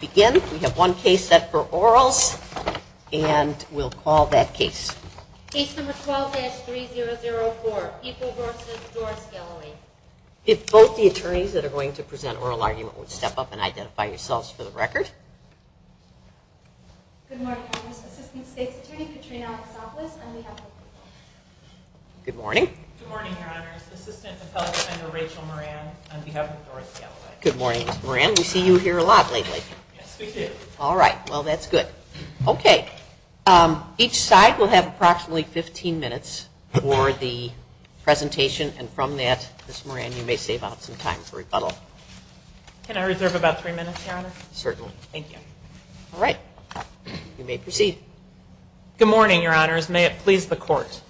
We have one case set for orals, and we'll call that case. Case number 12-3004, People v. Doris Galloway. If both the attorneys that are going to present oral argument would step up and identify yourselves for the record. Good morning, Your Honors. Assistant State's Attorney Katrina Alexopoulos, on behalf of People. Good morning. Good morning, Your Honors. Assistant Appellate Defender Rachel Moran, on behalf of Doris Galloway. Good morning, Ms. Moran. We see you here a lot lately. Yes, we do. All right. Well, that's good. Okay. Each side will have approximately 15 minutes for the presentation. And from that, Ms. Moran, you may save out some time for rebuttal. Can I reserve about three minutes, Your Honor? Certainly. Thank you. All right. You may proceed. Good morning, Your Honors. May it please the Court.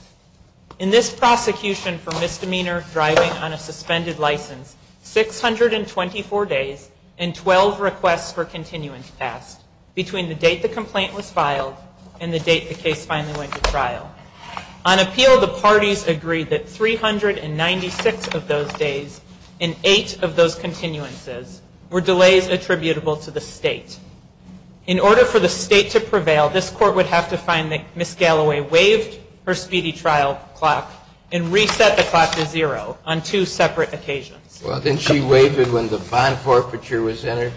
In this prosecution for misdemeanor driving on a suspended license, 624 days and 12 requests for continuance passed, between the date the complaint was filed and the date the case finally went to trial. On appeal, the parties agreed that 396 of those days and 8 of those continuances were delays attributable to the State. In order for the State to prevail, this Court would have to find that Ms. Galloway waived her speedy trial clock and reset the clock to zero on two separate occasions. Well, didn't she waive it when the bond forfeiture was entered?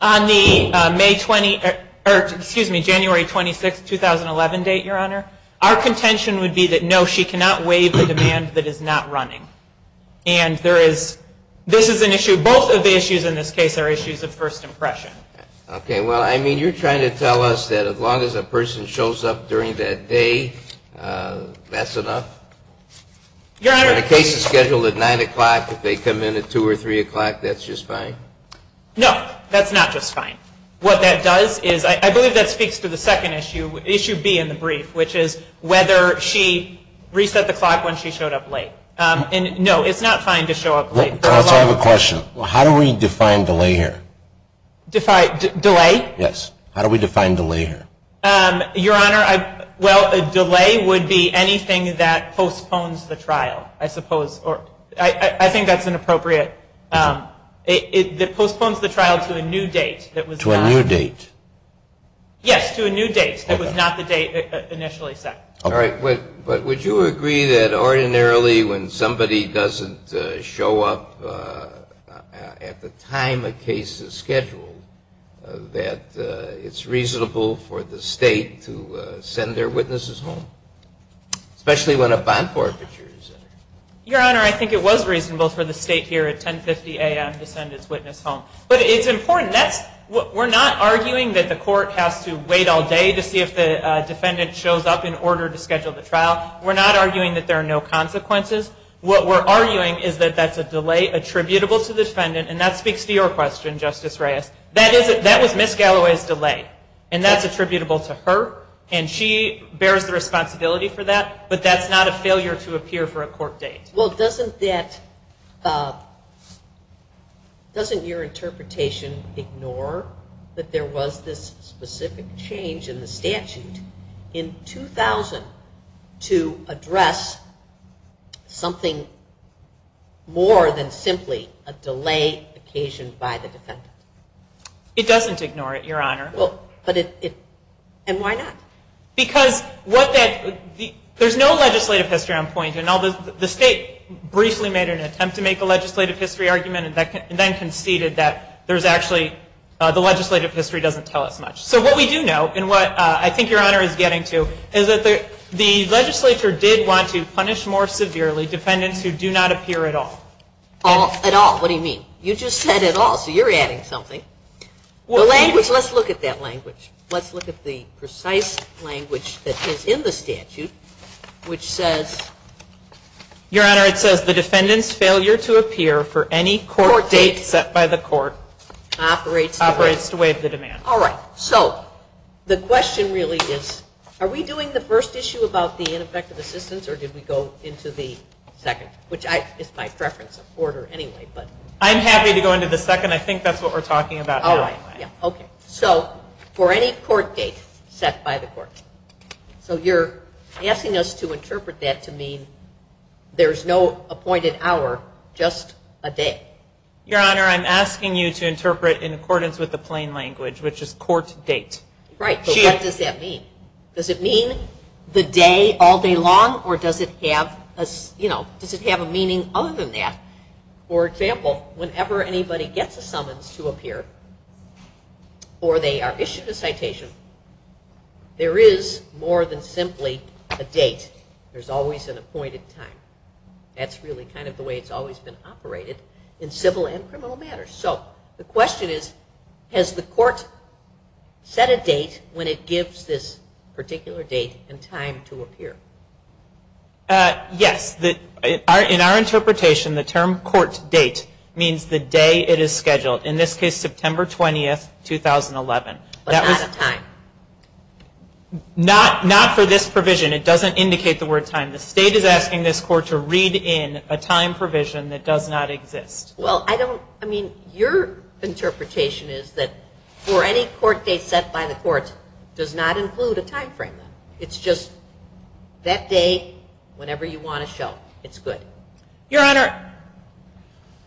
On the May 20, or excuse me, January 26, 2011 date, Your Honor, our contention would be that no, she cannot waive the demand that is not running. And there is, this is an issue, both of the issues in this case are issues of first impression. Okay. Well, I mean, you're trying to tell us that as long as a person shows up during that day, that's enough? Your Honor. When a case is scheduled at 9 o'clock, if they come in at 2 or 3 o'clock, that's just fine? No, that's not just fine. What that does is, I believe that speaks to the second issue, issue B in the brief, which is whether she reset the clock when she showed up late. And, no, it's not fine to show up late. Can I ask you a question? How do we define delay here? Define, delay? Yes. How do we define delay here? Your Honor, well, a delay would be anything that postpones the trial, I suppose, or I think that's an appropriate, that postpones the trial to a new date. To a new date. Yes, to a new date. It was not the date initially set. All right. But would you agree that ordinarily when somebody doesn't show up at the time a case is scheduled, that it's reasonable for the State to send their witnesses home, especially when a bond forfeiture is entered? Your Honor, I think it was reasonable for the State here at 10.50 a.m. to send its witness home. But it's important. We're not arguing that the court has to wait all day to see if the defendant shows up in order to schedule the trial. We're not arguing that there are no consequences. What we're arguing is that that's a delay attributable to the defendant, and that speaks to your question, Justice Reyes. That was Ms. Galloway's delay, and that's attributable to her, and she bears the responsibility for that, but that's not a failure to appear for a court date. Well, doesn't your interpretation ignore that there was this specific change in the statute in 2000 to address something more than simply a delay occasioned by the defendant? It doesn't ignore it, Your Honor. And why not? Because there's no legislative history on point. The State briefly made an attempt to make a legislative history argument and then conceded that there's actually the legislative history doesn't tell us much. So what we do know, and what I think Your Honor is getting to, is that the legislature did want to punish more severely defendants who do not appear at all. At all. What do you mean? You just said at all, so you're adding something. The language, let's look at that language. Let's look at the precise language that is in the statute, which says. Your Honor, it says the defendant's failure to appear for any court date set by the court operates to waive the demand. All right. So the question really is, are we doing the first issue about the ineffective assistance, or did we go into the second, which is my preference of order anyway. I'm happy to go into the second. I think that's what we're talking about now. So for any court date set by the court. So you're asking us to interpret that to mean there's no appointed hour, just a day. Your Honor, I'm asking you to interpret in accordance with the plain language, which is court date. Right, so what does that mean? Does it mean the day all day long, or does it have a meaning other than that? For example, whenever anybody gets a summons to appear, or they are issued a citation, there is more than simply a date. There's always an appointed time. That's really kind of the way it's always been operated in civil and criminal matters. So the question is, has the court set a date when it gives this particular date and time to appear? Yes. In our interpretation, the term court date means the day it is scheduled. In this case, September 20, 2011. But not a time. Not for this provision. It doesn't indicate the word time. The state is asking this court to read in a time provision that does not exist. Well, I don't, I mean, your interpretation is that for any court date set by the court does not include a time frame. It's just that day, whenever you want to show. It's good. Your Honor,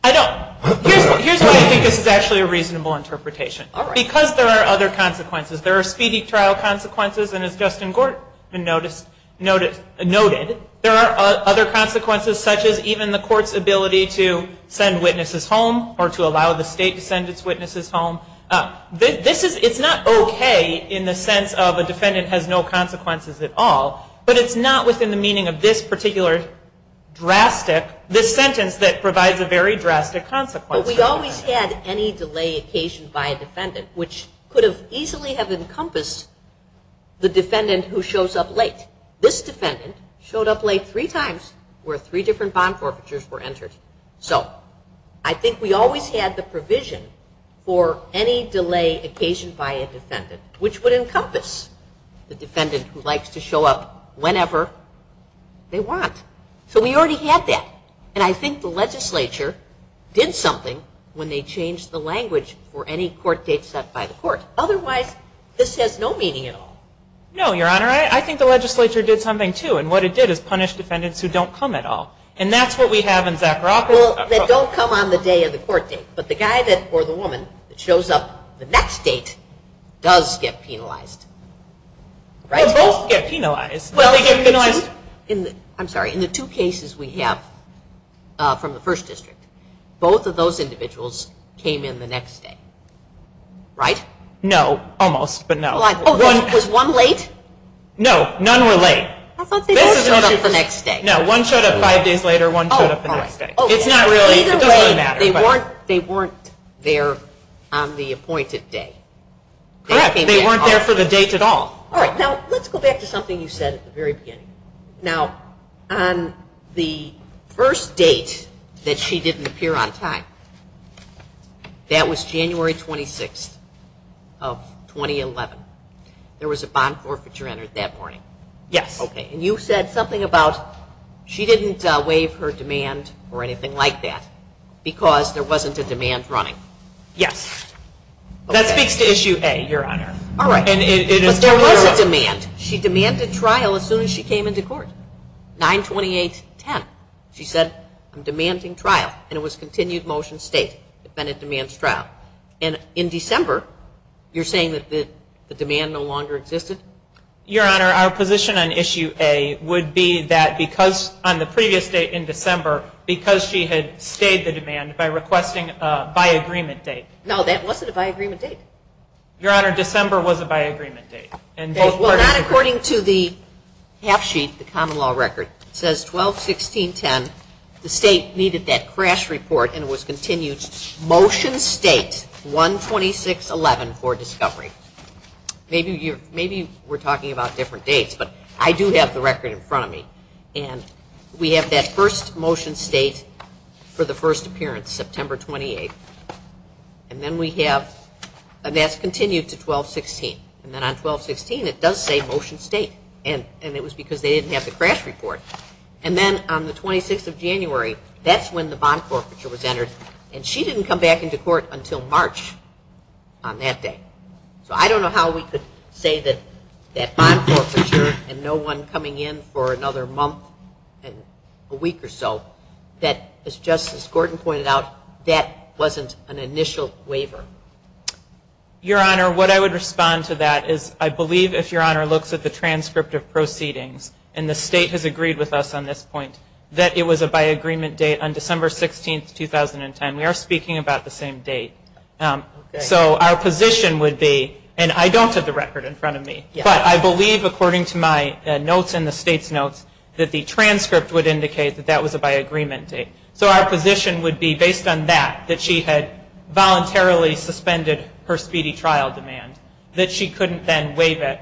I don't, here's why I think this is actually a reasonable interpretation. Because there are other consequences. There are speedy trial consequences, and as Justin Gort noticed, there are other consequences such as even the court's ability to send witnesses home or to allow the state to send its witnesses home. This is, it's not okay in the sense of a defendant has no consequences at all, but it's not within the meaning of this particular drastic, this sentence that provides a very drastic consequence. But we always had any delay occasioned by a defendant, which could have easily have encompassed the defendant who shows up late. This defendant showed up late three times where three different bond forfeitures were entered. So I think we always had the provision for any delay occasioned by a defendant, which would encompass the defendant who likes to show up whenever they want. So we already had that. And I think the legislature did something when they changed the language for any court date set by the court. Otherwise, this has no meaning at all. No, Your Honor. I think the legislature did something, too, and what it did is punish defendants who don't come at all. And that's what we have in Zacharoff. Well, they don't come on the day of the court date, but the guy or the woman that shows up the next date does get penalized. They both get penalized. In the two cases we have from the first district, both of those individuals came in the next day, right? No, almost, but no. Was one late? No, none were late. I thought they both showed up the next day. No, one showed up five days later, one showed up the next day. It doesn't really matter. Either way, they weren't there on the appointed day. Correct. They weren't there for the date at all. All right, now let's go back to something you said at the very beginning. Now, on the first date that she didn't appear on time, that was January 26th of 2011. There was a bond forfeiture entered that morning. Yes. Okay, and you said something about she didn't waive her demand or anything like that because there wasn't a demand running. Yes. That speaks to Issue A, Your Honor. All right, but there was a demand. She demanded trial as soon as she came into court, 9-28-10. She said, I'm demanding trial, and it was continued motion state, defendant demands trial. And in December, you're saying that the demand no longer existed? Your Honor, our position on Issue A would be that because on the previous date in December, because she had stayed the demand by requesting a by-agreement date. No, that wasn't a by-agreement date. Your Honor, December was a by-agreement date. Well, not according to the half sheet, the common law record. It says 12-16-10. The state needed that crash report, and it was continued motion state, 1-26-11 for discovery. Maybe we're talking about different dates, but I do have the record in front of me. And we have that first motion state for the first appearance, September 28th. And then we have, and that's continued to 12-16. And then on 12-16, it does say motion state, and it was because they didn't have the crash report. And then on the 26th of January, that's when the bond forfeiture was entered, and she didn't come back into court until March on that day. So I don't know how we could say that bond forfeiture and no one coming in for another month and a week or so, that, as Justice Gordon pointed out, that wasn't an initial waiver. Your Honor, what I would respond to that is I believe, if Your Honor looks at the transcript of proceedings, and the state has agreed with us on this point, that it was a by-agreement date on December 16th, 2010. We are speaking about the same date. So our position would be, and I don't have the record in front of me, but I believe according to my notes and the state's notes, that the transcript would indicate that that was a by-agreement date. So our position would be, based on that, that she had voluntarily suspended her speedy trial demand, that she couldn't then waive it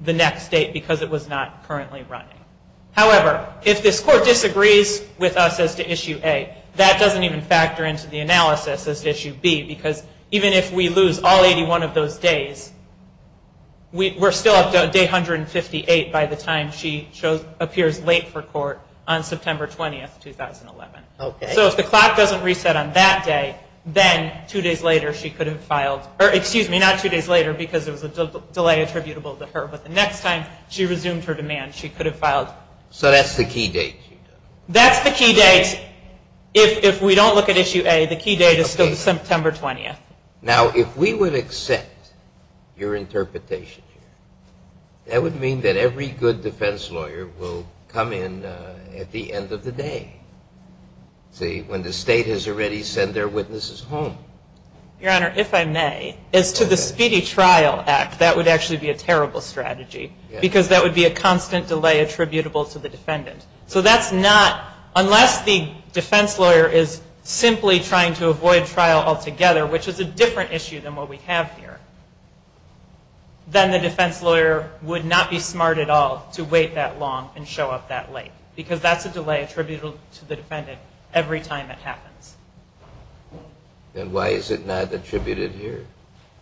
the next date because it was not currently running. However, if this Court disagrees with us as to Issue A, that doesn't even factor into the analysis as to Issue B, because even if we lose all 81 of those days, we're still up to Day 158 by the time she appears late for court on September 20th, 2011. So if the clock doesn't reset on that day, then two days later she could have filed, or excuse me, not two days later because there was a delay attributable to her, but the next time she resumed her demand, she could have filed. So that's the key date. That's the key date. If we don't look at Issue A, the key date is still September 20th. Now, if we would accept your interpretation here, that would mean that every good defense lawyer will come in at the end of the day, see, when the state has already sent their witnesses home. Your Honor, if I may, as to the Speedy Trial Act, that would actually be a terrible strategy because that would be a constant delay attributable to the defendant. So that's not, unless the defense lawyer is simply trying to avoid trial altogether, which is a different issue than what we have here, then the defense lawyer would not be smart at all to wait that long and show up that late because that's a delay attributable to the defendant every time it happens. Then why is it not attributed here?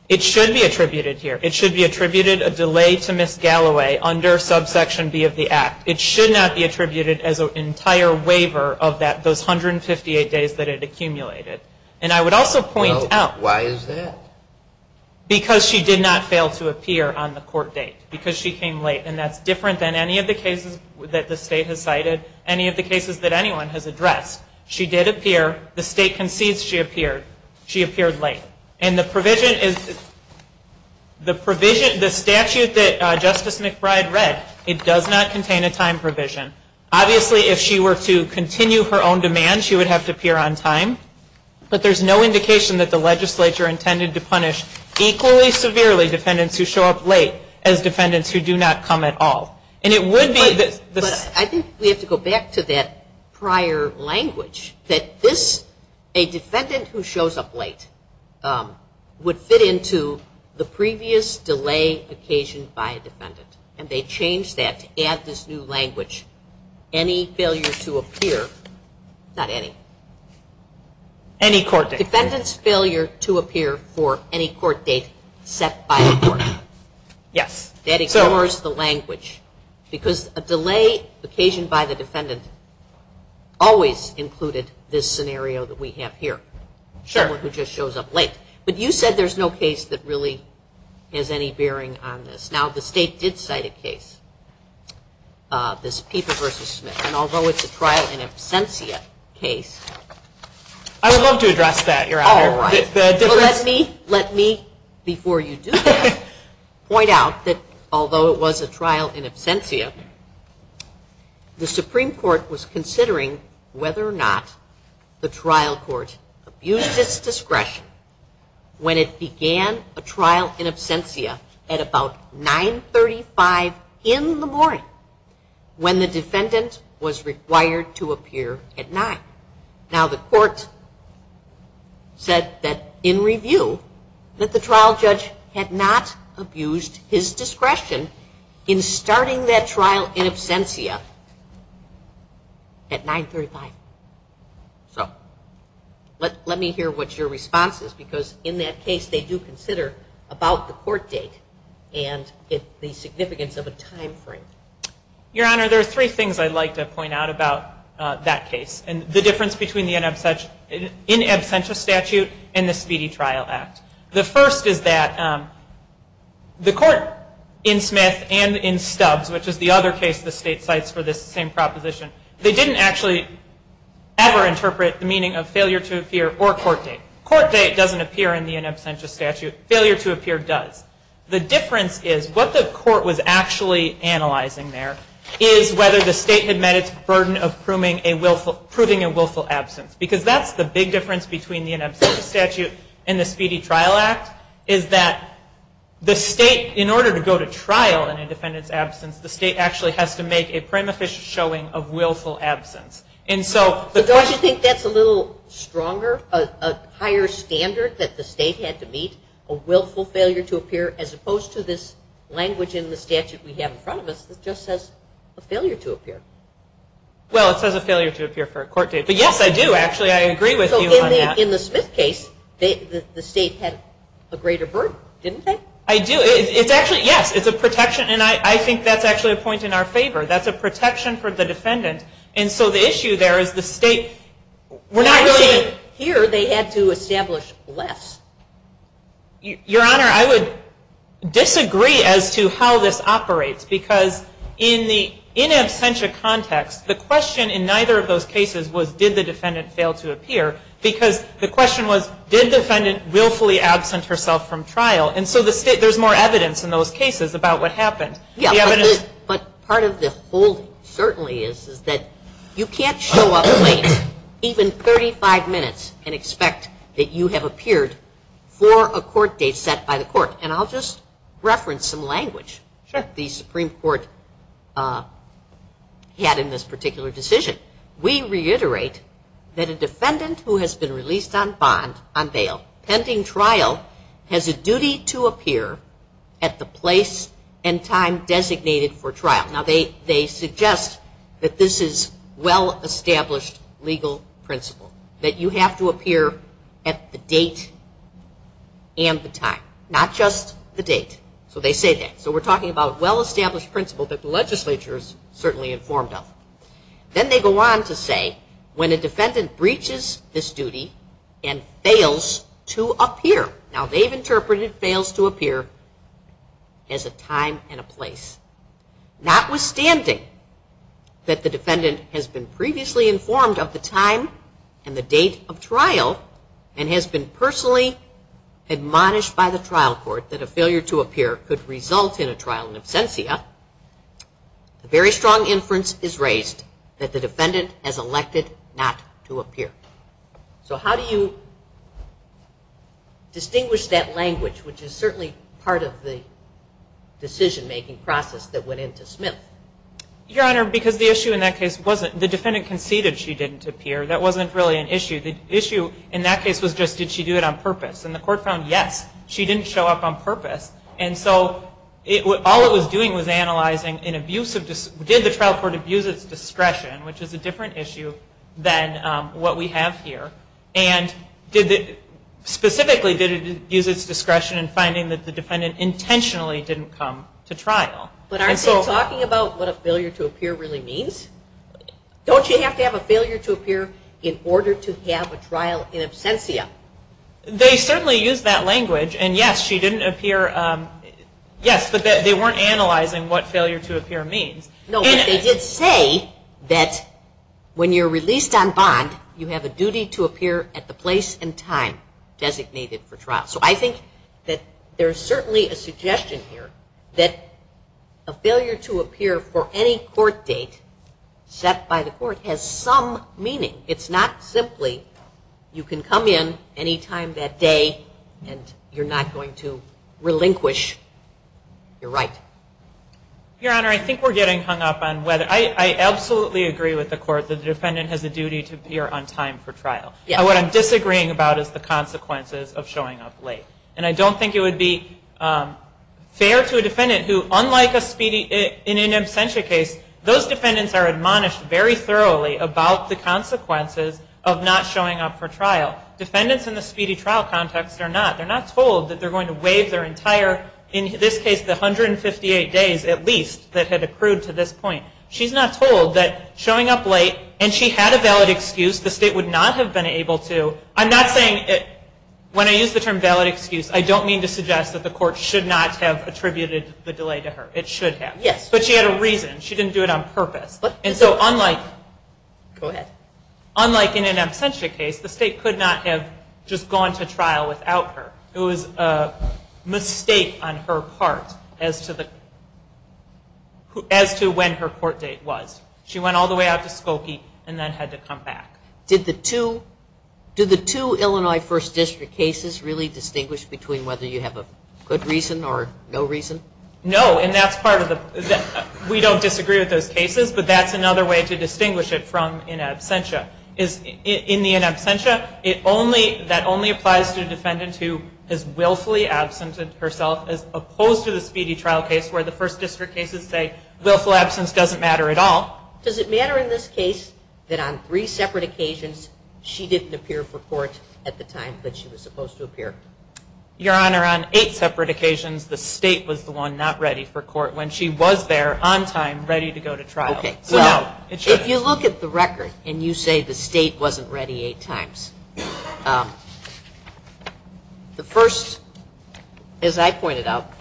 It should be attributed here. It should be attributed a delay to Ms. Galloway under Subsection B of the Act. It should not be attributed as an entire waiver of those 158 days that it accumulated. And I would also point out. Well, why is that? Because she did not fail to appear on the court date because she came late, and that's different than any of the cases that the state has cited, any of the cases that anyone has addressed. She did appear. The state concedes she appeared. She appeared late. And the provision is, the provision, the statute that Justice McBride read, it does not contain a time provision. Obviously, if she were to continue her own demand, she would have to appear on time. But there's no indication that the legislature intended to punish equally severely defendants who show up late as defendants who do not come at all. But I think we have to go back to that prior language, that this, a defendant who shows up late, would fit into the previous delay occasioned by a defendant, and they changed that to add this new language, any failure to appear, not any. Any court date. Defendant's failure to appear for any court date set by the court. Yes. That ignores the language. Because a delay occasioned by the defendant always included this scenario that we have here. Sure. Someone who just shows up late. But you said there's no case that really has any bearing on this. Now, the state did cite a case, this Pieper v. Smith, and although it's a trial in absentia case. I would love to address that, Your Honor. All right. Let me, before you do that, point out that although it was a trial in absentia, the Supreme Court was considering whether or not the trial court abused its discretion when it began a trial in absentia at about 9.35 in the morning when the defendant was required to appear at 9. Now, the court said that in review that the trial judge had not abused his discretion in starting that trial in absentia at 9.35. So let me hear what your response is, because in that case they do consider about the court date and the significance of a time frame. Your Honor, there are three things I'd like to point out about that case. And the difference between the in absentia statute and the speedy trial act. The first is that the court in Smith and in Stubbs, which is the other case the state cites for this same proposition, they didn't actually ever interpret the meaning of failure to appear or court date. Court date doesn't appear in the in absentia statute. Failure to appear does. The difference is what the court was actually analyzing there is whether the state had met its burden of proving a willful absence. Because that's the big difference between the in absentia statute and the speedy trial act, is that the state, in order to go to trial in a defendant's absence, the state actually has to make a prima facie showing of willful absence. So don't you think that's a little stronger, a higher standard that the state had to meet, a willful failure to appear, as opposed to this language in the statute we have in front of us that just says a failure to appear? Well, it says a failure to appear for a court date. But yes, I do actually. I agree with you on that. So in the Smith case, the state had a greater burden, didn't they? I do. It's actually, yes, it's a protection. And I think that's actually a point in our favor. That's a protection for the defendant. And so the issue there is the state were not really. Here they had to establish less. Your Honor, I would disagree as to how this operates because in the in absentia context, the question in neither of those cases was did the defendant fail to appear because the question was did the defendant willfully absent herself from trial. And so there's more evidence in those cases about what happened. But part of the whole certainly is that you can't show up late, even 35 minutes, and expect that you have appeared for a court date set by the court. And I'll just reference some language the Supreme Court had in this particular decision. We reiterate that a defendant who has been released on bond, on bail, pending trial, has a duty to appear at the place and time designated for trial. Now they suggest that this is well-established legal principle, that you have to appear at the date and the time, not just the date. So they say that. So we're talking about well-established principle that the legislature is certainly informed of. Then they go on to say when a defendant breaches this duty and fails to appear. Now they've interpreted fails to appear as a time and a place. Notwithstanding that the defendant has been previously informed of the time and the date of trial and has been personally admonished by the trial court that a failure to appear could result in a trial in absentia, a very strong inference is raised that the defendant has elected not to appear. So how do you distinguish that language, which is certainly part of the decision-making process that went into Smith? Your Honor, because the issue in that case wasn't the defendant conceded she didn't appear. That wasn't really an issue. The issue in that case was just did she do it on purpose. And the court found yes, she didn't show up on purpose. And so all it was doing was analyzing did the trial court abuse its discretion, which is a different issue than what we have here, and specifically did it abuse its discretion in finding that the defendant intentionally didn't come to trial. But aren't they talking about what a failure to appear really means? Don't you have to have a failure to appear in order to have a trial in absentia? They certainly used that language. And yes, she didn't appear. Yes, but they weren't analyzing what failure to appear means. No, but they did say that when you're released on bond, you have a duty to appear at the place and time designated for trial. So I think that there's certainly a suggestion here that a failure to appear for any court date set by the court has some meaning. It's not simply you can come in any time that day and you're not going to relinquish your right. Your Honor, I think we're getting hung up on whether I absolutely agree with the court that the defendant has a duty to appear on time for trial. What I'm disagreeing about is the consequences of showing up late. And I don't think it would be fair to a defendant who, unlike a speedy in an absentia case, those defendants are admonished very thoroughly about the consequences of not showing up for trial. Defendants in the speedy trial context are not. They're not told that they're going to waive their entire, in this case, the 158 days at least that had accrued to this point. She's not told that showing up late, and she had a valid excuse. The state would not have been able to. I'm not saying, when I use the term valid excuse, I don't mean to suggest that the court should not have attributed the delay to her. It should have. But she had a reason. She didn't do it on purpose. And so unlike in an absentia case, the state could not have just gone to trial without her. It was a mistake on her part as to when her court date was. She went all the way out to Skokie and then had to come back. Did the two Illinois First District cases really distinguish between whether you have a good reason or no reason? No, and that's part of the – we don't disagree with those cases, but that's another way to distinguish it from in absentia. In the in absentia, that only applies to a defendant who is willfully absent herself, as opposed to the speedy trial case where the First District cases say willful absence doesn't matter at all. Does it matter in this case that on three separate occasions, she didn't appear for court at the time that she was supposed to appear? Your Honor, on eight separate occasions, the state was the one not ready for court when she was there on time, ready to go to trial. Okay, so if you look at the record and you say the state wasn't ready eight times, the first, as I pointed out,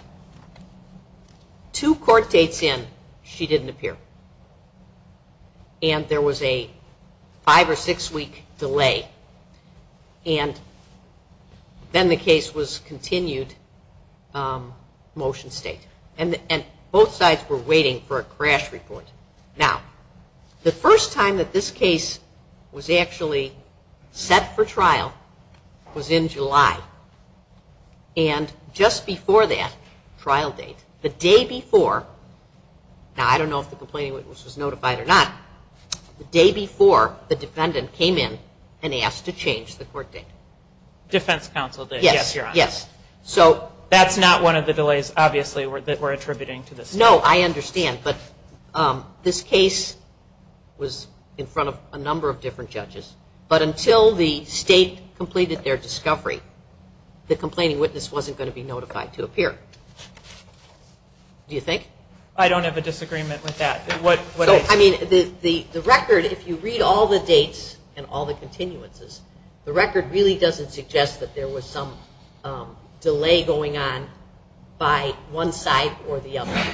two court dates in, she didn't appear. And there was a five- or six-week delay. And then the case was continued motion state. And both sides were waiting for a crash report. Now, the first time that this case was actually set for trial was in July. And just before that trial date, the day before – now, I don't know if the complaining witness was notified or not – the day before, the defendant came in and asked to change the court date. Defense counsel did, yes, Your Honor. Yes. That's not one of the delays, obviously, that we're attributing to the state. No, I understand. But this case was in front of a number of different judges. But until the state completed their discovery, the complaining witness wasn't going to be notified to appear. Do you think? I don't have a disagreement with that. I mean, the record, if you read all the dates and all the continuances, the record really doesn't suggest that there was some delay going on by one side or the other.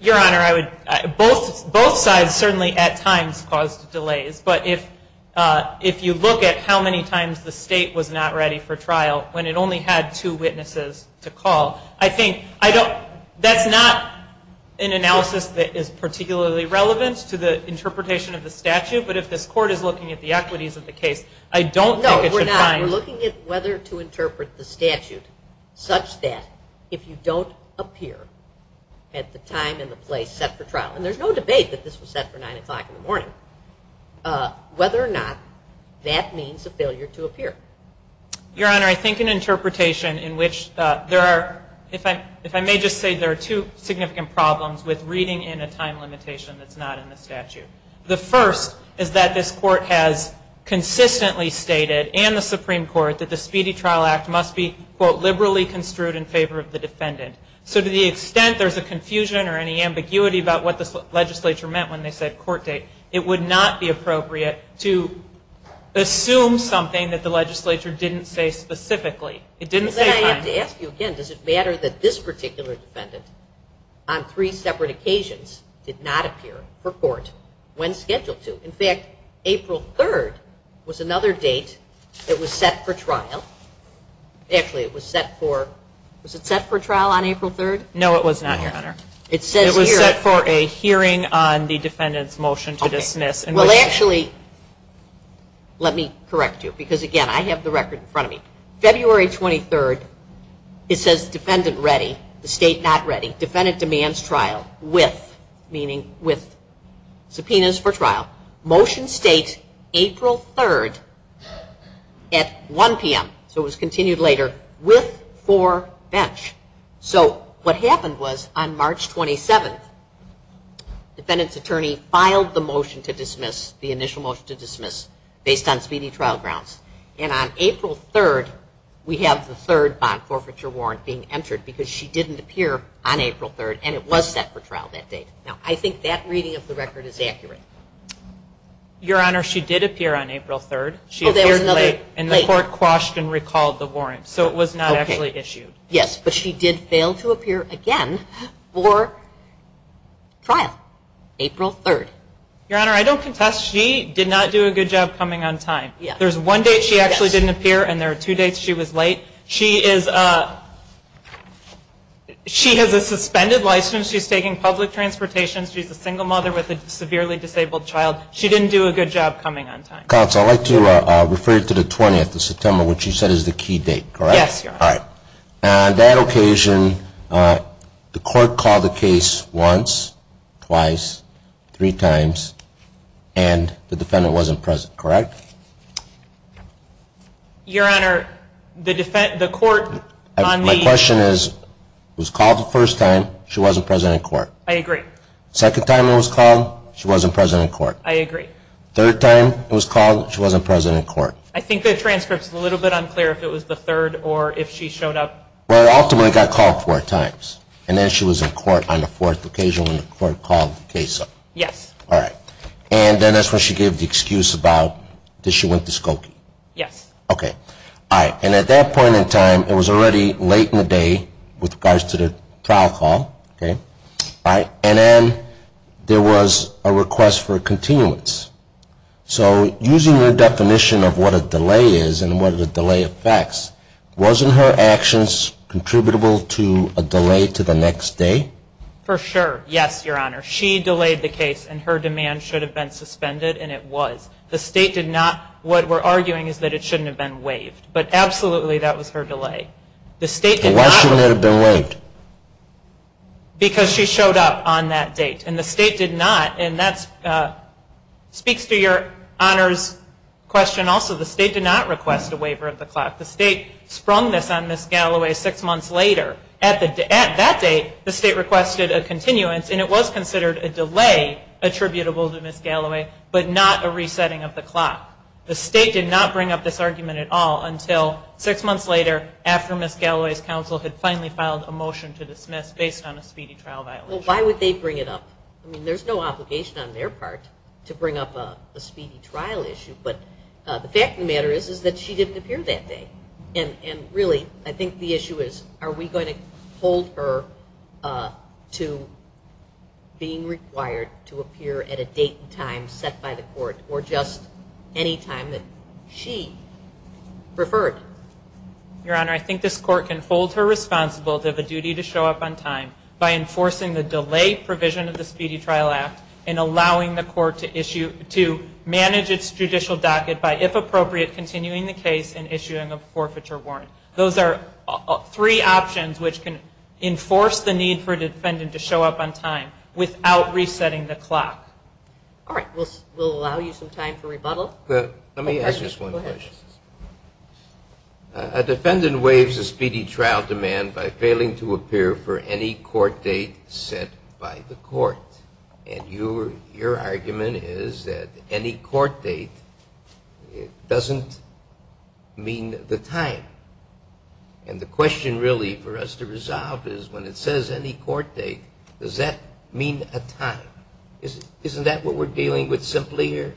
Your Honor, both sides certainly at times caused delays. But if you look at how many times the state was not ready for trial, when it only had two witnesses to call, I think that's not an analysis that is particularly relevant to the interpretation of the statute. But if this court is looking at the equities of the case, I don't think it should find. No, we're not. We're looking at whether to interpret the statute such that if you don't appear at the time and the place set for trial, and there's no debate that this was set for 9 o'clock in the morning, whether or not that means a failure to appear. Your Honor, I think an interpretation in which there are, if I may just say there are two significant problems with reading in a time limitation that's not in the statute. The first is that this court has consistently stated, and the Supreme Court, that the Speedy Trial Act must be, quote, liberally construed in favor of the defendant. So to the extent there's a confusion or any ambiguity about what this legislature meant when they said court date, it would not be appropriate to assume something that the legislature didn't say specifically. It didn't say time. Then I have to ask you again, does it matter that this particular defendant, on three separate occasions, did not appear for court when scheduled to? In fact, April 3rd was another date that was set for trial. Actually, it was set for, was it set for trial on April 3rd? No, it was not, Your Honor. It was set for a hearing on the defendant's motion to dismiss. Well, actually, let me correct you, because, again, I have the record in front of me. February 23rd, it says defendant ready, the state not ready. Defendant demands trial with, meaning with subpoenas for trial. Motion states April 3rd at 1 p.m. So it was continued later, with, for, bench. So what happened was, on March 27th, defendant's attorney filed the motion to dismiss, the initial motion to dismiss, based on speedy trial grounds. And on April 3rd, we have the third bond forfeiture warrant being entered, because she didn't appear on April 3rd, and it was set for trial that day. Now, I think that reading of the record is accurate. Your Honor, she did appear on April 3rd. She appeared late, and the court quashed and recalled the warrant. So it was not actually issued. Yes, but she did fail to appear again for trial, April 3rd. Your Honor, I don't contest. She did not do a good job coming on time. There's one date she actually didn't appear, and there are two dates she was late. She is, she has a suspended license. She's taking public transportation. She's a single mother with a severely disabled child. She didn't do a good job coming on time. Counsel, I'd like to refer you to the 20th of September, which you said is the key date, correct? Yes, Your Honor. All right. On that occasion, the court called the case once, twice, three times, and the defendant wasn't present, correct? Your Honor, the court on the ---- My question is, it was called the first time. She wasn't present in court. I agree. Second time it was called, she wasn't present in court. I agree. Third time it was called, she wasn't present in court. I think the transcript is a little bit unclear if it was the third or if she showed up. Well, ultimately it got called four times, and then she was in court on the fourth occasion when the court called the case. Yes. All right. And then that's when she gave the excuse about that she went to Skokie. Yes. Okay. All right. And at that point in time, it was already late in the day with regards to the trial call, okay? All right. And then there was a request for a continuance. So using your definition of what a delay is and what a delay affects, wasn't her actions contributable to a delay to the next day? For sure. Yes, Your Honor. She delayed the case, and her demand should have been suspended, and it was. The state did not. What we're arguing is that it shouldn't have been waived. But absolutely that was her delay. Why shouldn't it have been waived? Because she showed up on that date, and the state did not. And that speaks to Your Honor's question also. The state did not request a waiver of the clock. The state sprung this on Ms. Galloway six months later. At that date, the state requested a continuance, and it was considered a delay attributable to Ms. Galloway, but not a resetting of the clock. The state did not bring up this argument at all until six months later, after Ms. Galloway's counsel had finally filed a motion to dismiss based on a speedy trial violation. Well, why would they bring it up? I mean, there's no obligation on their part to bring up a speedy trial issue. But the fact of the matter is that she didn't appear that day. And really, I think the issue is, are we going to hold her to being required to appear at a date and time set by the court, or just any time that she preferred? Your Honor, I think this court can hold her responsible to have a duty to show up on time by enforcing the delay provision of the Speedy Trial Act and allowing the court to manage its judicial docket by, if appropriate, continuing the case and issuing a forfeiture warrant. Those are three options which can enforce the need for a defendant to show up on time without resetting the clock. All right. We'll allow you some time for rebuttal. Let me ask just one question. A defendant waives a speedy trial demand by failing to appear for any court date set by the court. And your argument is that any court date doesn't mean the time. And the question really for us to resolve is, when it says any court date, does that mean a time? Isn't that what we're dealing with simply here?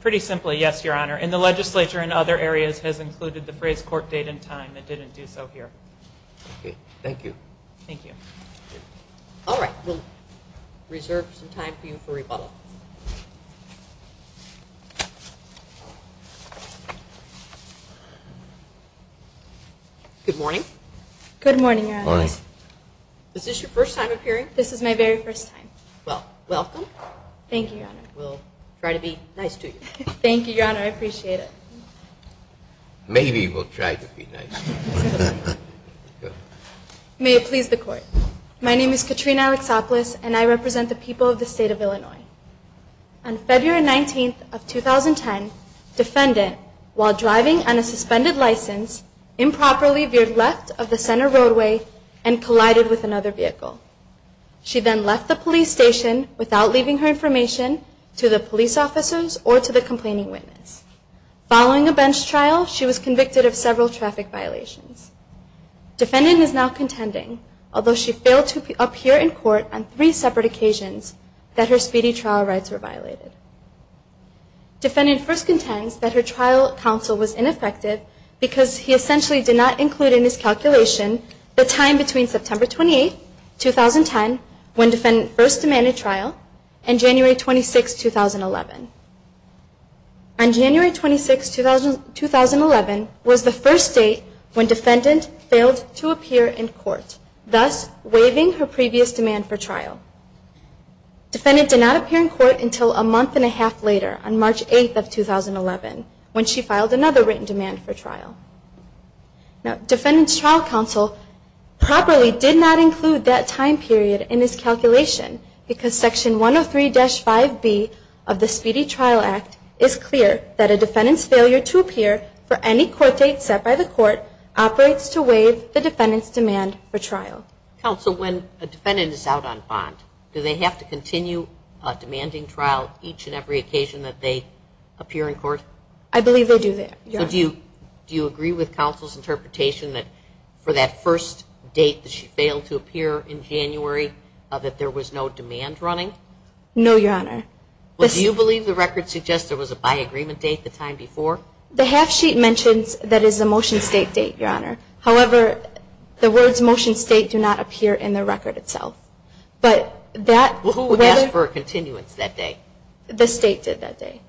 Pretty simply, yes, Your Honor. And the legislature in other areas has included the phrase court date and time. It didn't do so here. Okay. Thank you. Thank you. All right. We'll reserve some time for you for rebuttal. Good morning. Good morning, Your Honor. Good morning. Is this your first time appearing? This is my very first time. Well, welcome. Thank you, Your Honor. We'll try to be nice to you. Thank you, Your Honor. I appreciate it. Maybe we'll try to be nice to you. May it please the Court. My name is Katrina Alexopolis, and I represent the people of the State of Illinois. On February 19th of 2010, defendant, while driving on a suspended license, improperly veered left of the center roadway and collided with another vehicle. She then left the police station without leaving her information to the police officers or to the complaining witness. Following a bench trial, she was convicted of several traffic violations. Defendant is now contending, although she failed to appear in court on three separate occasions, that her speedy trial rights were violated. Defendant first contends that her trial counsel was ineffective because he essentially did not include in his calculation the time between September 28th, 2010, when defendant first demanded trial, and January 26th, 2011. On January 26th, 2011, was the first date when defendant failed to appear in court, thus waiving her previous demand for trial. Defendant did not appear in court until a month and a half later, on March 8th of 2011, when she filed another written demand for trial. Now, defendant's trial counsel properly did not include that time period in his calculation, because Section 103-5B of the Speedy Trial Act is clear that a defendant's failure to appear for any court date set by the court operates to waive the defendant's demand for trial. Counsel, when a defendant is out on bond, do they have to continue demanding trial each and every occasion that they appear in court? I believe they do there, yes. So do you agree with counsel's interpretation that for that first date that she failed to appear in January, that there was no demand running? No, Your Honor. Well, do you believe the record suggests there was a by-agreement date the time before? The half-sheet mentions that it is a motion state date, Your Honor. However, the words motion state do not appear in the record itself. But that... Well, who asked for a continuance that day? The state did that day.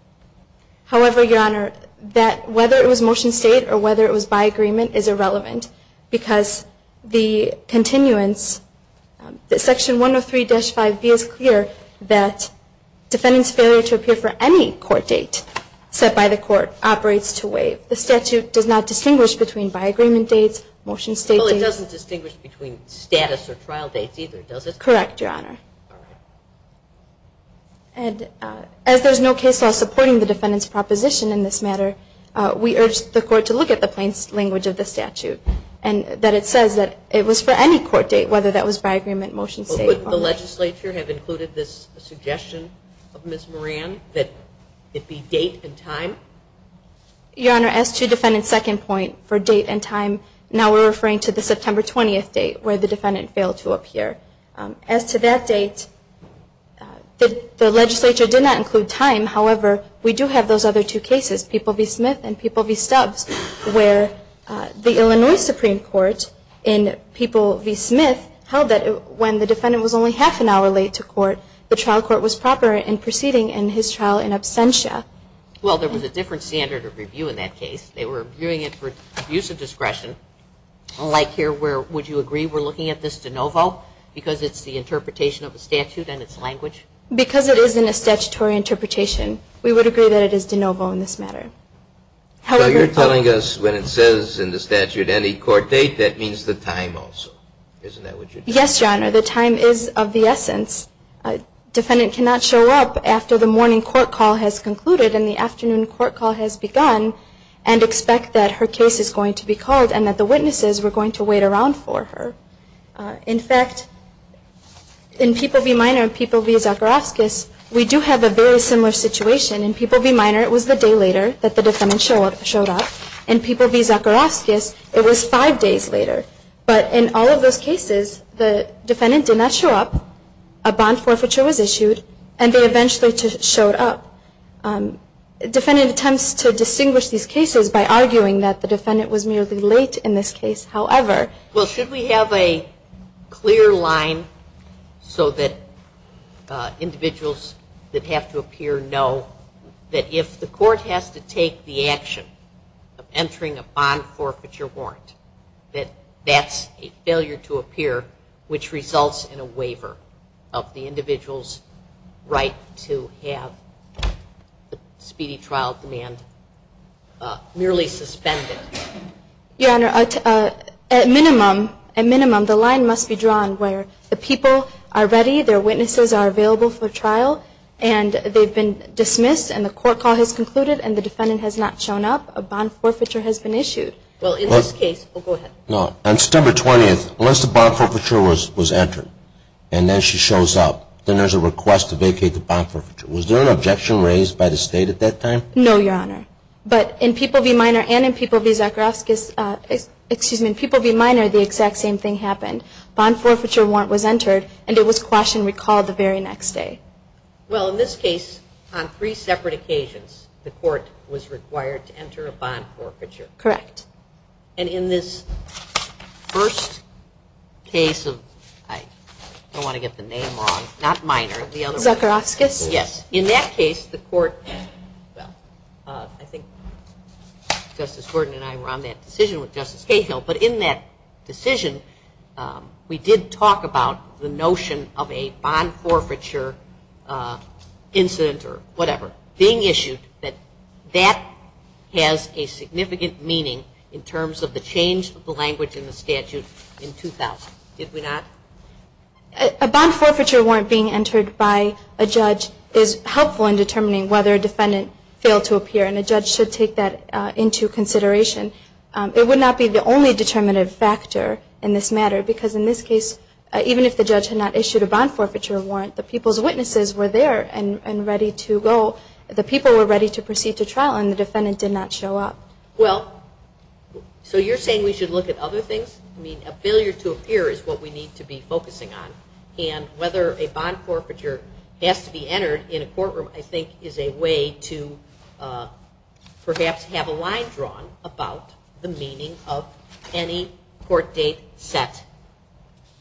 However, Your Honor, that whether it was motion state or whether it was by-agreement is irrelevant, because the continuance... Section 103-5B is clear that defendant's failure to appear for any court date set by the court operates to waive. The statute does not distinguish between by-agreement dates, motion state dates... Well, it doesn't distinguish between status or trial dates either, does it? Correct, Your Honor. And as there's no case law supporting the defendant's proposition in this matter, we urge the court to look at the plain language of the statute, and that it says that it was for any court date, whether that was by-agreement, motion state... Would the legislature have included this suggestion of Ms. Moran, that it be date and time? Your Honor, as to defendant's second point for date and time, now we're referring to the September 20th date where the defendant failed to appear. As to that date, the legislature did not include time. However, we do have those other two cases, People v. Smith and People v. Stubbs, where the Illinois Supreme Court in People v. Smith held that when the defendant was only half an hour late to court, the trial court was proper in proceeding in his trial in absentia. Well, there was a different standard of review in that case. They were viewing it for abuse of discretion, like here where, would you agree, we're looking at this de novo because it's the interpretation of the statute and its language? Because it is in a statutory interpretation, we would agree that it is de novo in this matter. So you're telling us when it says in the statute any court date, that means the time also. Isn't that what you're telling us? Yes, Your Honor. The time is of the essence. A defendant cannot show up after the morning court call has concluded and the afternoon court call has begun and expect that her case is going to be called and that the witnesses were going to wait around for her. In fact, in People v. Minor and People v. Zakharovskis, we do have a very similar situation. In People v. Minor, it was the day later that the defendant showed up. In People v. Zakharovskis, it was five days later. But in all of those cases, the defendant did not show up, a bond forfeiture was issued, and they eventually showed up. The defendant attempts to distinguish these cases by arguing that the defendant was merely late in this case, however. Well, should we have a clear line so that individuals that have to appear know that if the court has to take the action of entering a bond forfeiture warrant, that that's a failure to appear, which results in a waiver of the individual's right to have speedy trial demand merely suspended? Your Honor, at minimum, the line must be drawn where the people are ready, their witnesses are available for trial, and they've been dismissed and the court call has concluded and the defendant has not shown up, a bond forfeiture has been issued. Well, in this case, unless the bond forfeiture was entered, and then she shows up, then there's a request to vacate the bond forfeiture. Was there an objection raised by the State at that time? No, Your Honor. But in People v. Minor, the exact same thing happened. A bond forfeiture warrant was entered, and it was quashed and recalled the very next day. Well, in this case, on three separate occasions, the court was required to enter a bond forfeiture. Correct. And in this first case of, I don't want to get the name wrong, not Minor, the other one. Zuckerofskis. Yes. In that case, the court, well, I think Justice Gordon and I were on that decision with Justice Cahill, but in that decision, we did talk about the notion of a bond forfeiture incident or whatever being issued, that that has a significant meaning in terms of the change of the language in the statute in 2000. Did we not? A bond forfeiture warrant being entered by a judge is helpful in determining whether a defendant failed to appear, and a judge should take that into consideration. It would not be the only determinative factor in this matter, because in this case, even if the judge had not issued a bond forfeiture warrant, the people's witnesses were there and ready to go. The people were ready to proceed to trial, and the defendant did not show up. Well, so you're saying we should look at other things? I mean, a failure to appear is what we need to be focusing on, and whether a bond forfeiture has to be entered in a courtroom, I think, is a way to perhaps have a line drawn about the meaning of any court date set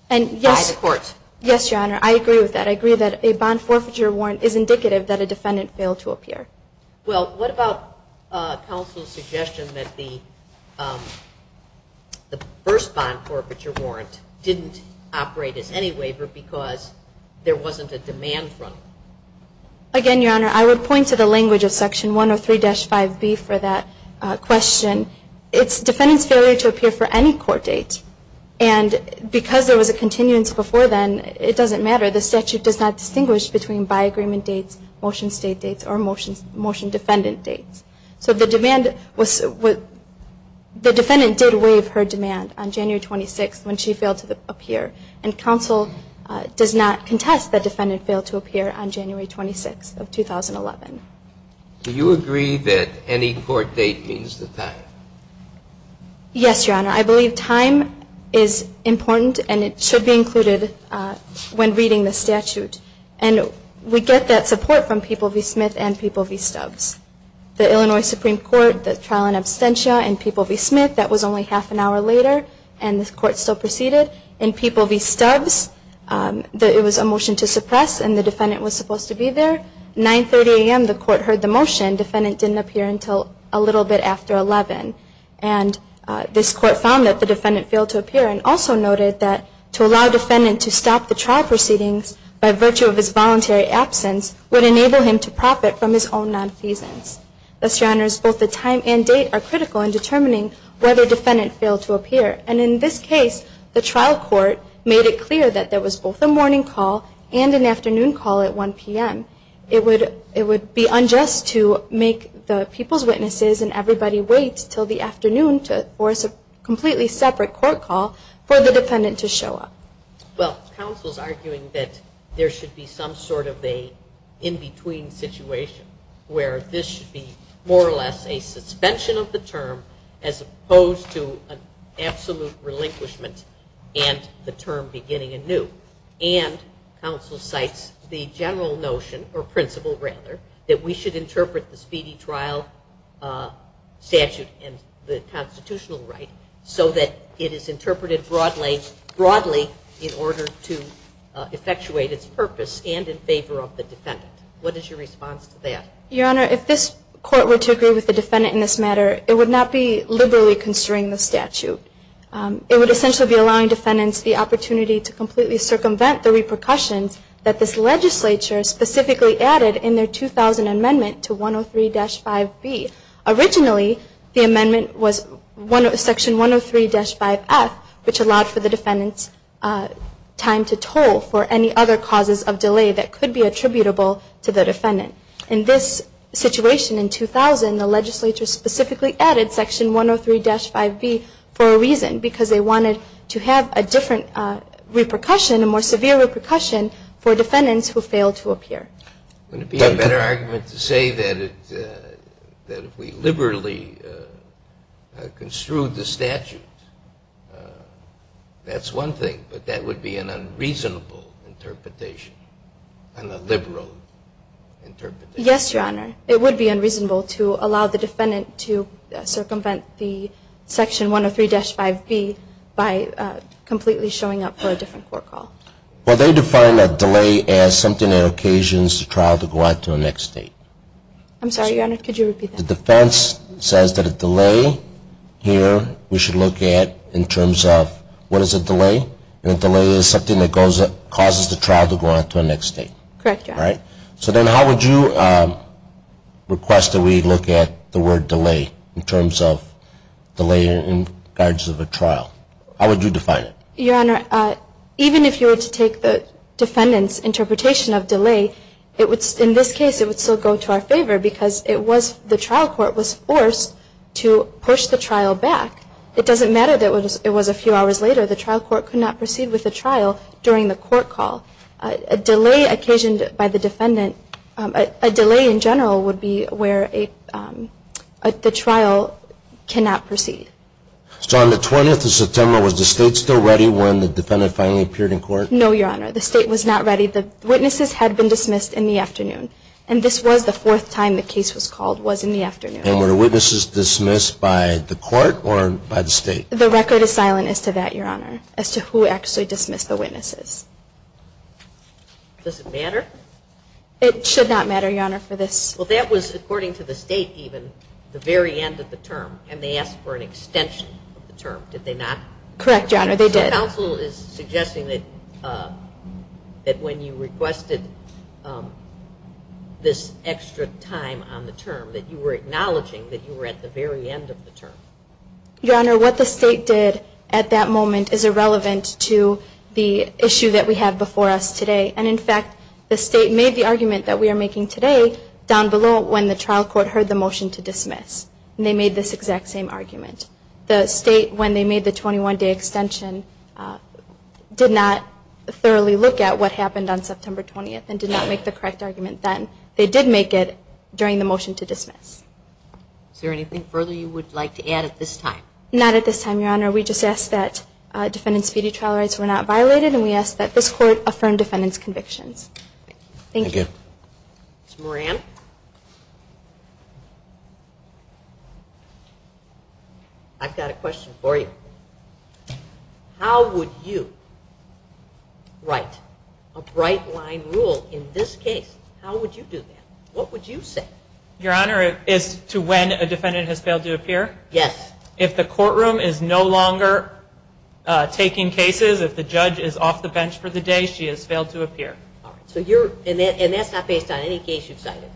by the court. Yes, Your Honor. I agree with that. I agree that a bond forfeiture warrant is indicative that a defendant failed to appear. Well, what about counsel's suggestion that the first bond forfeiture warrant didn't operate as any waiver because there wasn't a demand from it? Again, Your Honor, I would point to the language of Section 103-5B for that question. It's defendant's failure to appear for any court date, and because there was a continuance before then, it doesn't matter. The statute does not distinguish between by agreement dates, motion state dates, or motion defendant dates. So the defendant did waive her demand on January 26th when she failed to appear, and counsel does not contest that defendant failed to appear on January 26th of 2011. Do you agree that any court date means the time? Yes, Your Honor. I believe time is important, and it should be included when reading the statute. And we get that support from People v. Smith and People v. Stubbs. The Illinois Supreme Court, the trial in absentia in People v. Smith, that was only half an hour later, and the court still proceeded. In People v. Stubbs, it was a motion to suppress, and the defendant was supposed to be there. 930 a.m., the court heard the motion. Defendant didn't appear until a little bit after 11. And this court found that the defendant failed to appear and also noted that to allow defendant to stop the trial proceedings by virtue of his voluntary absence would enable him to profit from his own non-pleasance. Thus, Your Honors, both the time and date are critical in determining whether defendant failed to appear. And in this case, the trial court made it clear that there was both a morning call and an afternoon call at 1 p.m. It would be unjust to make the people's witnesses and everybody wait until the afternoon to force a completely separate court call for the defendant to show up. Well, counsel is arguing that there should be some sort of an in-between situation where this should be more or less a suspension of the term as opposed to an absolute relinquishment and the term beginning anew. And counsel cites the general notion, or principle rather, that we should interpret the speedy trial statute and the constitutional right so that it is interpreted broadly in order to effectuate its purpose and in favor of the defendant. What is your response to that? Your Honor, if this court were to agree with the defendant in this matter, it would not be liberally constraining the statute. It would essentially be allowing defendants the opportunity to completely circumvent the repercussions that this legislature specifically added in their 2000 amendment to 103-5B. Originally, the amendment was Section 103-5F, which allowed for the defendant's time to toll for any other causes of delay that could be attributable to the defendant. In this situation in 2000, the legislature specifically added Section 103-5B for a reason, because they wanted to have a different repercussion, a more severe repercussion, for defendants who failed to appear. Would it be a better argument to say that if we liberally construed the statute, that's one thing, but that would be an unreasonable interpretation, and a liberal interpretation? Yes, Your Honor. It would be unreasonable to allow the defendant to circumvent the Section 103-5B by completely showing up for a different court call. Well, they define a delay as something that occasions the trial to go on to the next date. I'm sorry, Your Honor. Could you repeat that? The defense says that a delay here we should look at in terms of what is a delay, and a delay is something that causes the trial to go on to the next date. Correct, Your Honor. So then how would you request that we look at the word delay in terms of delay in regards to the trial? How would you define it? Your Honor, even if you were to take the defendant's interpretation of delay, in this case it would still go to our favor, because the trial court was forced to push the trial back. It doesn't matter that it was a few hours later. The trial court could not proceed with the trial during the court call. A delay occasioned by the defendant, a delay in general would be where the trial cannot proceed. So on the 20th of September, was the State still ready when the defendant finally appeared in court? No, Your Honor. The State was not ready. The witnesses had been dismissed in the afternoon, and this was the fourth time the case was called was in the afternoon. And were the witnesses dismissed by the court or by the State? The record is silent as to that, Your Honor, as to who actually dismissed the witnesses. Does it matter? It should not matter, Your Honor, for this. Well, that was, according to the State even, the very end of the term, and they asked for an extension of the term. Did they not? Correct, Your Honor, they did. The counsel is suggesting that when you requested this extra time on the term, that you were acknowledging that you were at the very end of the term. Your Honor, what the State did at that moment is irrelevant to the issue that we have before us today. And, in fact, the State made the argument that we are making today down below when the trial court heard the motion to dismiss, and they made this exact same argument. The State, when they made the 21-day extension, did not thoroughly look at what happened on September 20th and did not make the correct argument then. They did make it during the motion to dismiss. Is there anything further you would like to add at this time? Not at this time, Your Honor. We just ask that defendants' fetus trial rights were not violated, and we ask that this Court affirm defendants' convictions. Thank you. Thank you. Ms. Moran. Ms. Moran. I've got a question for you. How would you write a bright-line rule in this case? How would you do that? What would you say? Your Honor, as to when a defendant has failed to appear? Yes. If the courtroom is no longer taking cases, if the judge is off the bench for the day, she has failed to appear. All right. And that's not based on any case you've cited?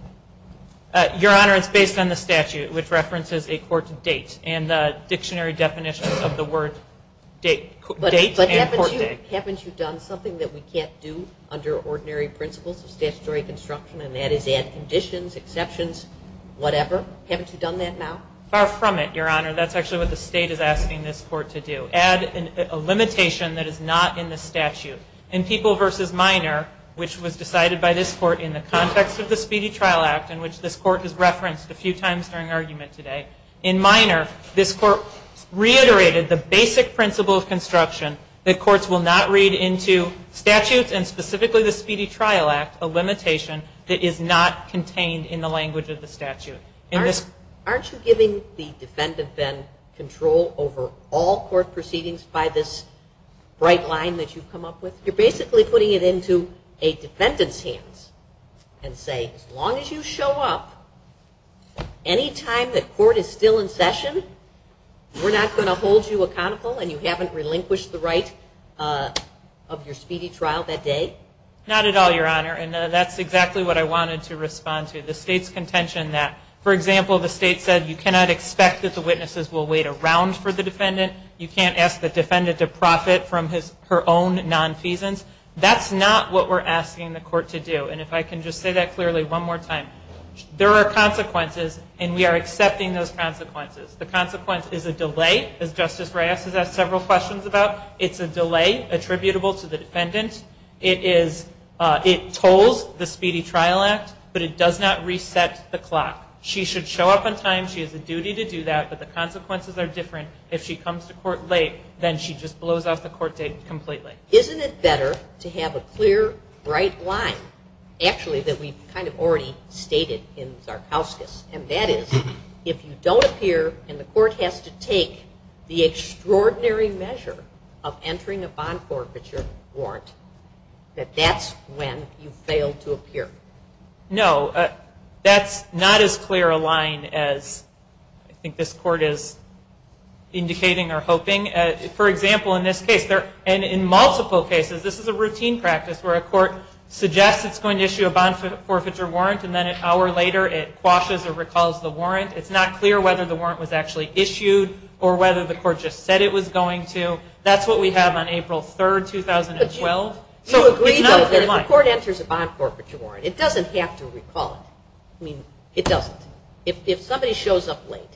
Your Honor, it's based on the statute, which references a court date and the dictionary definition of the word date and court date. But haven't you done something that we can't do under ordinary principles of statutory construction, and that is add conditions, exceptions, whatever? Haven't you done that now? Far from it, Your Honor. That's actually what the State is asking this Court to do, add a limitation that is not in the statute. In People v. Minor, which was decided by this Court in the context of the Speedy Trial Act, in which this Court has referenced a few times during argument today, in Minor this Court reiterated the basic principle of construction that courts will not read into statutes, and specifically the Speedy Trial Act, a limitation that is not contained in the language of the statute. Aren't you giving the defendant then control over all court proceedings by this bright line that you've come up with? You're basically putting it into a defendant's hands and saying, as long as you show up, any time that court is still in session, we're not going to hold you accountable and you haven't relinquished the right of your speedy trial that day? Not at all, Your Honor, and that's exactly what I wanted to respond to. The State's contention that, for example, you can't ask the defendant to profit from her own nonfeasance, that's not what we're asking the court to do. And if I can just say that clearly one more time, there are consequences and we are accepting those consequences. The consequence is a delay, as Justice Reyes has asked several questions about. It's a delay attributable to the defendant. It tolls the Speedy Trial Act, but it does not reset the clock. She should show up on time, she has a duty to do that, but the consequences are different. If she comes to court late, then she just blows off the court date completely. Isn't it better to have a clear, bright line, actually that we've kind of already stated in Zarkowskis, and that is if you don't appear and the court has to take the extraordinary measure of entering a bond forfeiture warrant, that that's when you fail to appear? No, that's not as clear a line as I think this court is indicating or hoping. For example, in this case, and in multiple cases, this is a routine practice where a court suggests it's going to issue a bond forfeiture warrant and then an hour later it quashes or recalls the warrant. It's not clear whether the warrant was actually issued or whether the court just said it was going to. That's what we have on April 3, 2012. You agree, though, that if the court enters a bond forfeiture warrant, it doesn't have to recall it. I mean, it doesn't. If somebody shows up late,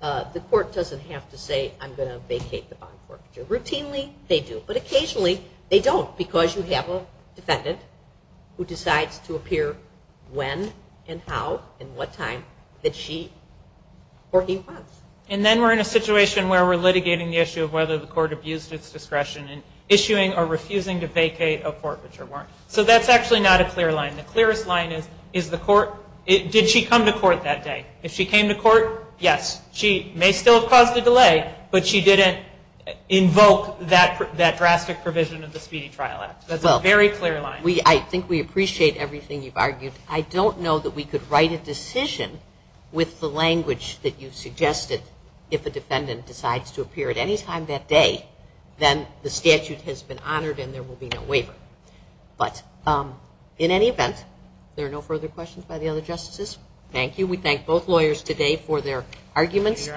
the court doesn't have to say, I'm going to vacate the bond forfeiture. Routinely they do, but occasionally they don't because you have a defendant who decides to appear when and how and what time that she or he wants. And then we're in a situation where we're litigating the issue of whether the court abused its discretion in issuing or refusing to vacate a forfeiture warrant. So that's actually not a clear line. The clearest line is, did she come to court that day? If she came to court, yes. She may still have caused a delay, but she didn't invoke that drastic provision of the Speedy Trial Act. That's a very clear line. I think we appreciate everything you've argued. I don't know that we could write a decision with the language that you've suggested if a defendant decides to appear at any time that day, then the statute has been honored and there will be no waiver. But in any event, if there are no further questions by the other justices, thank you. We thank both lawyers today for their arguments.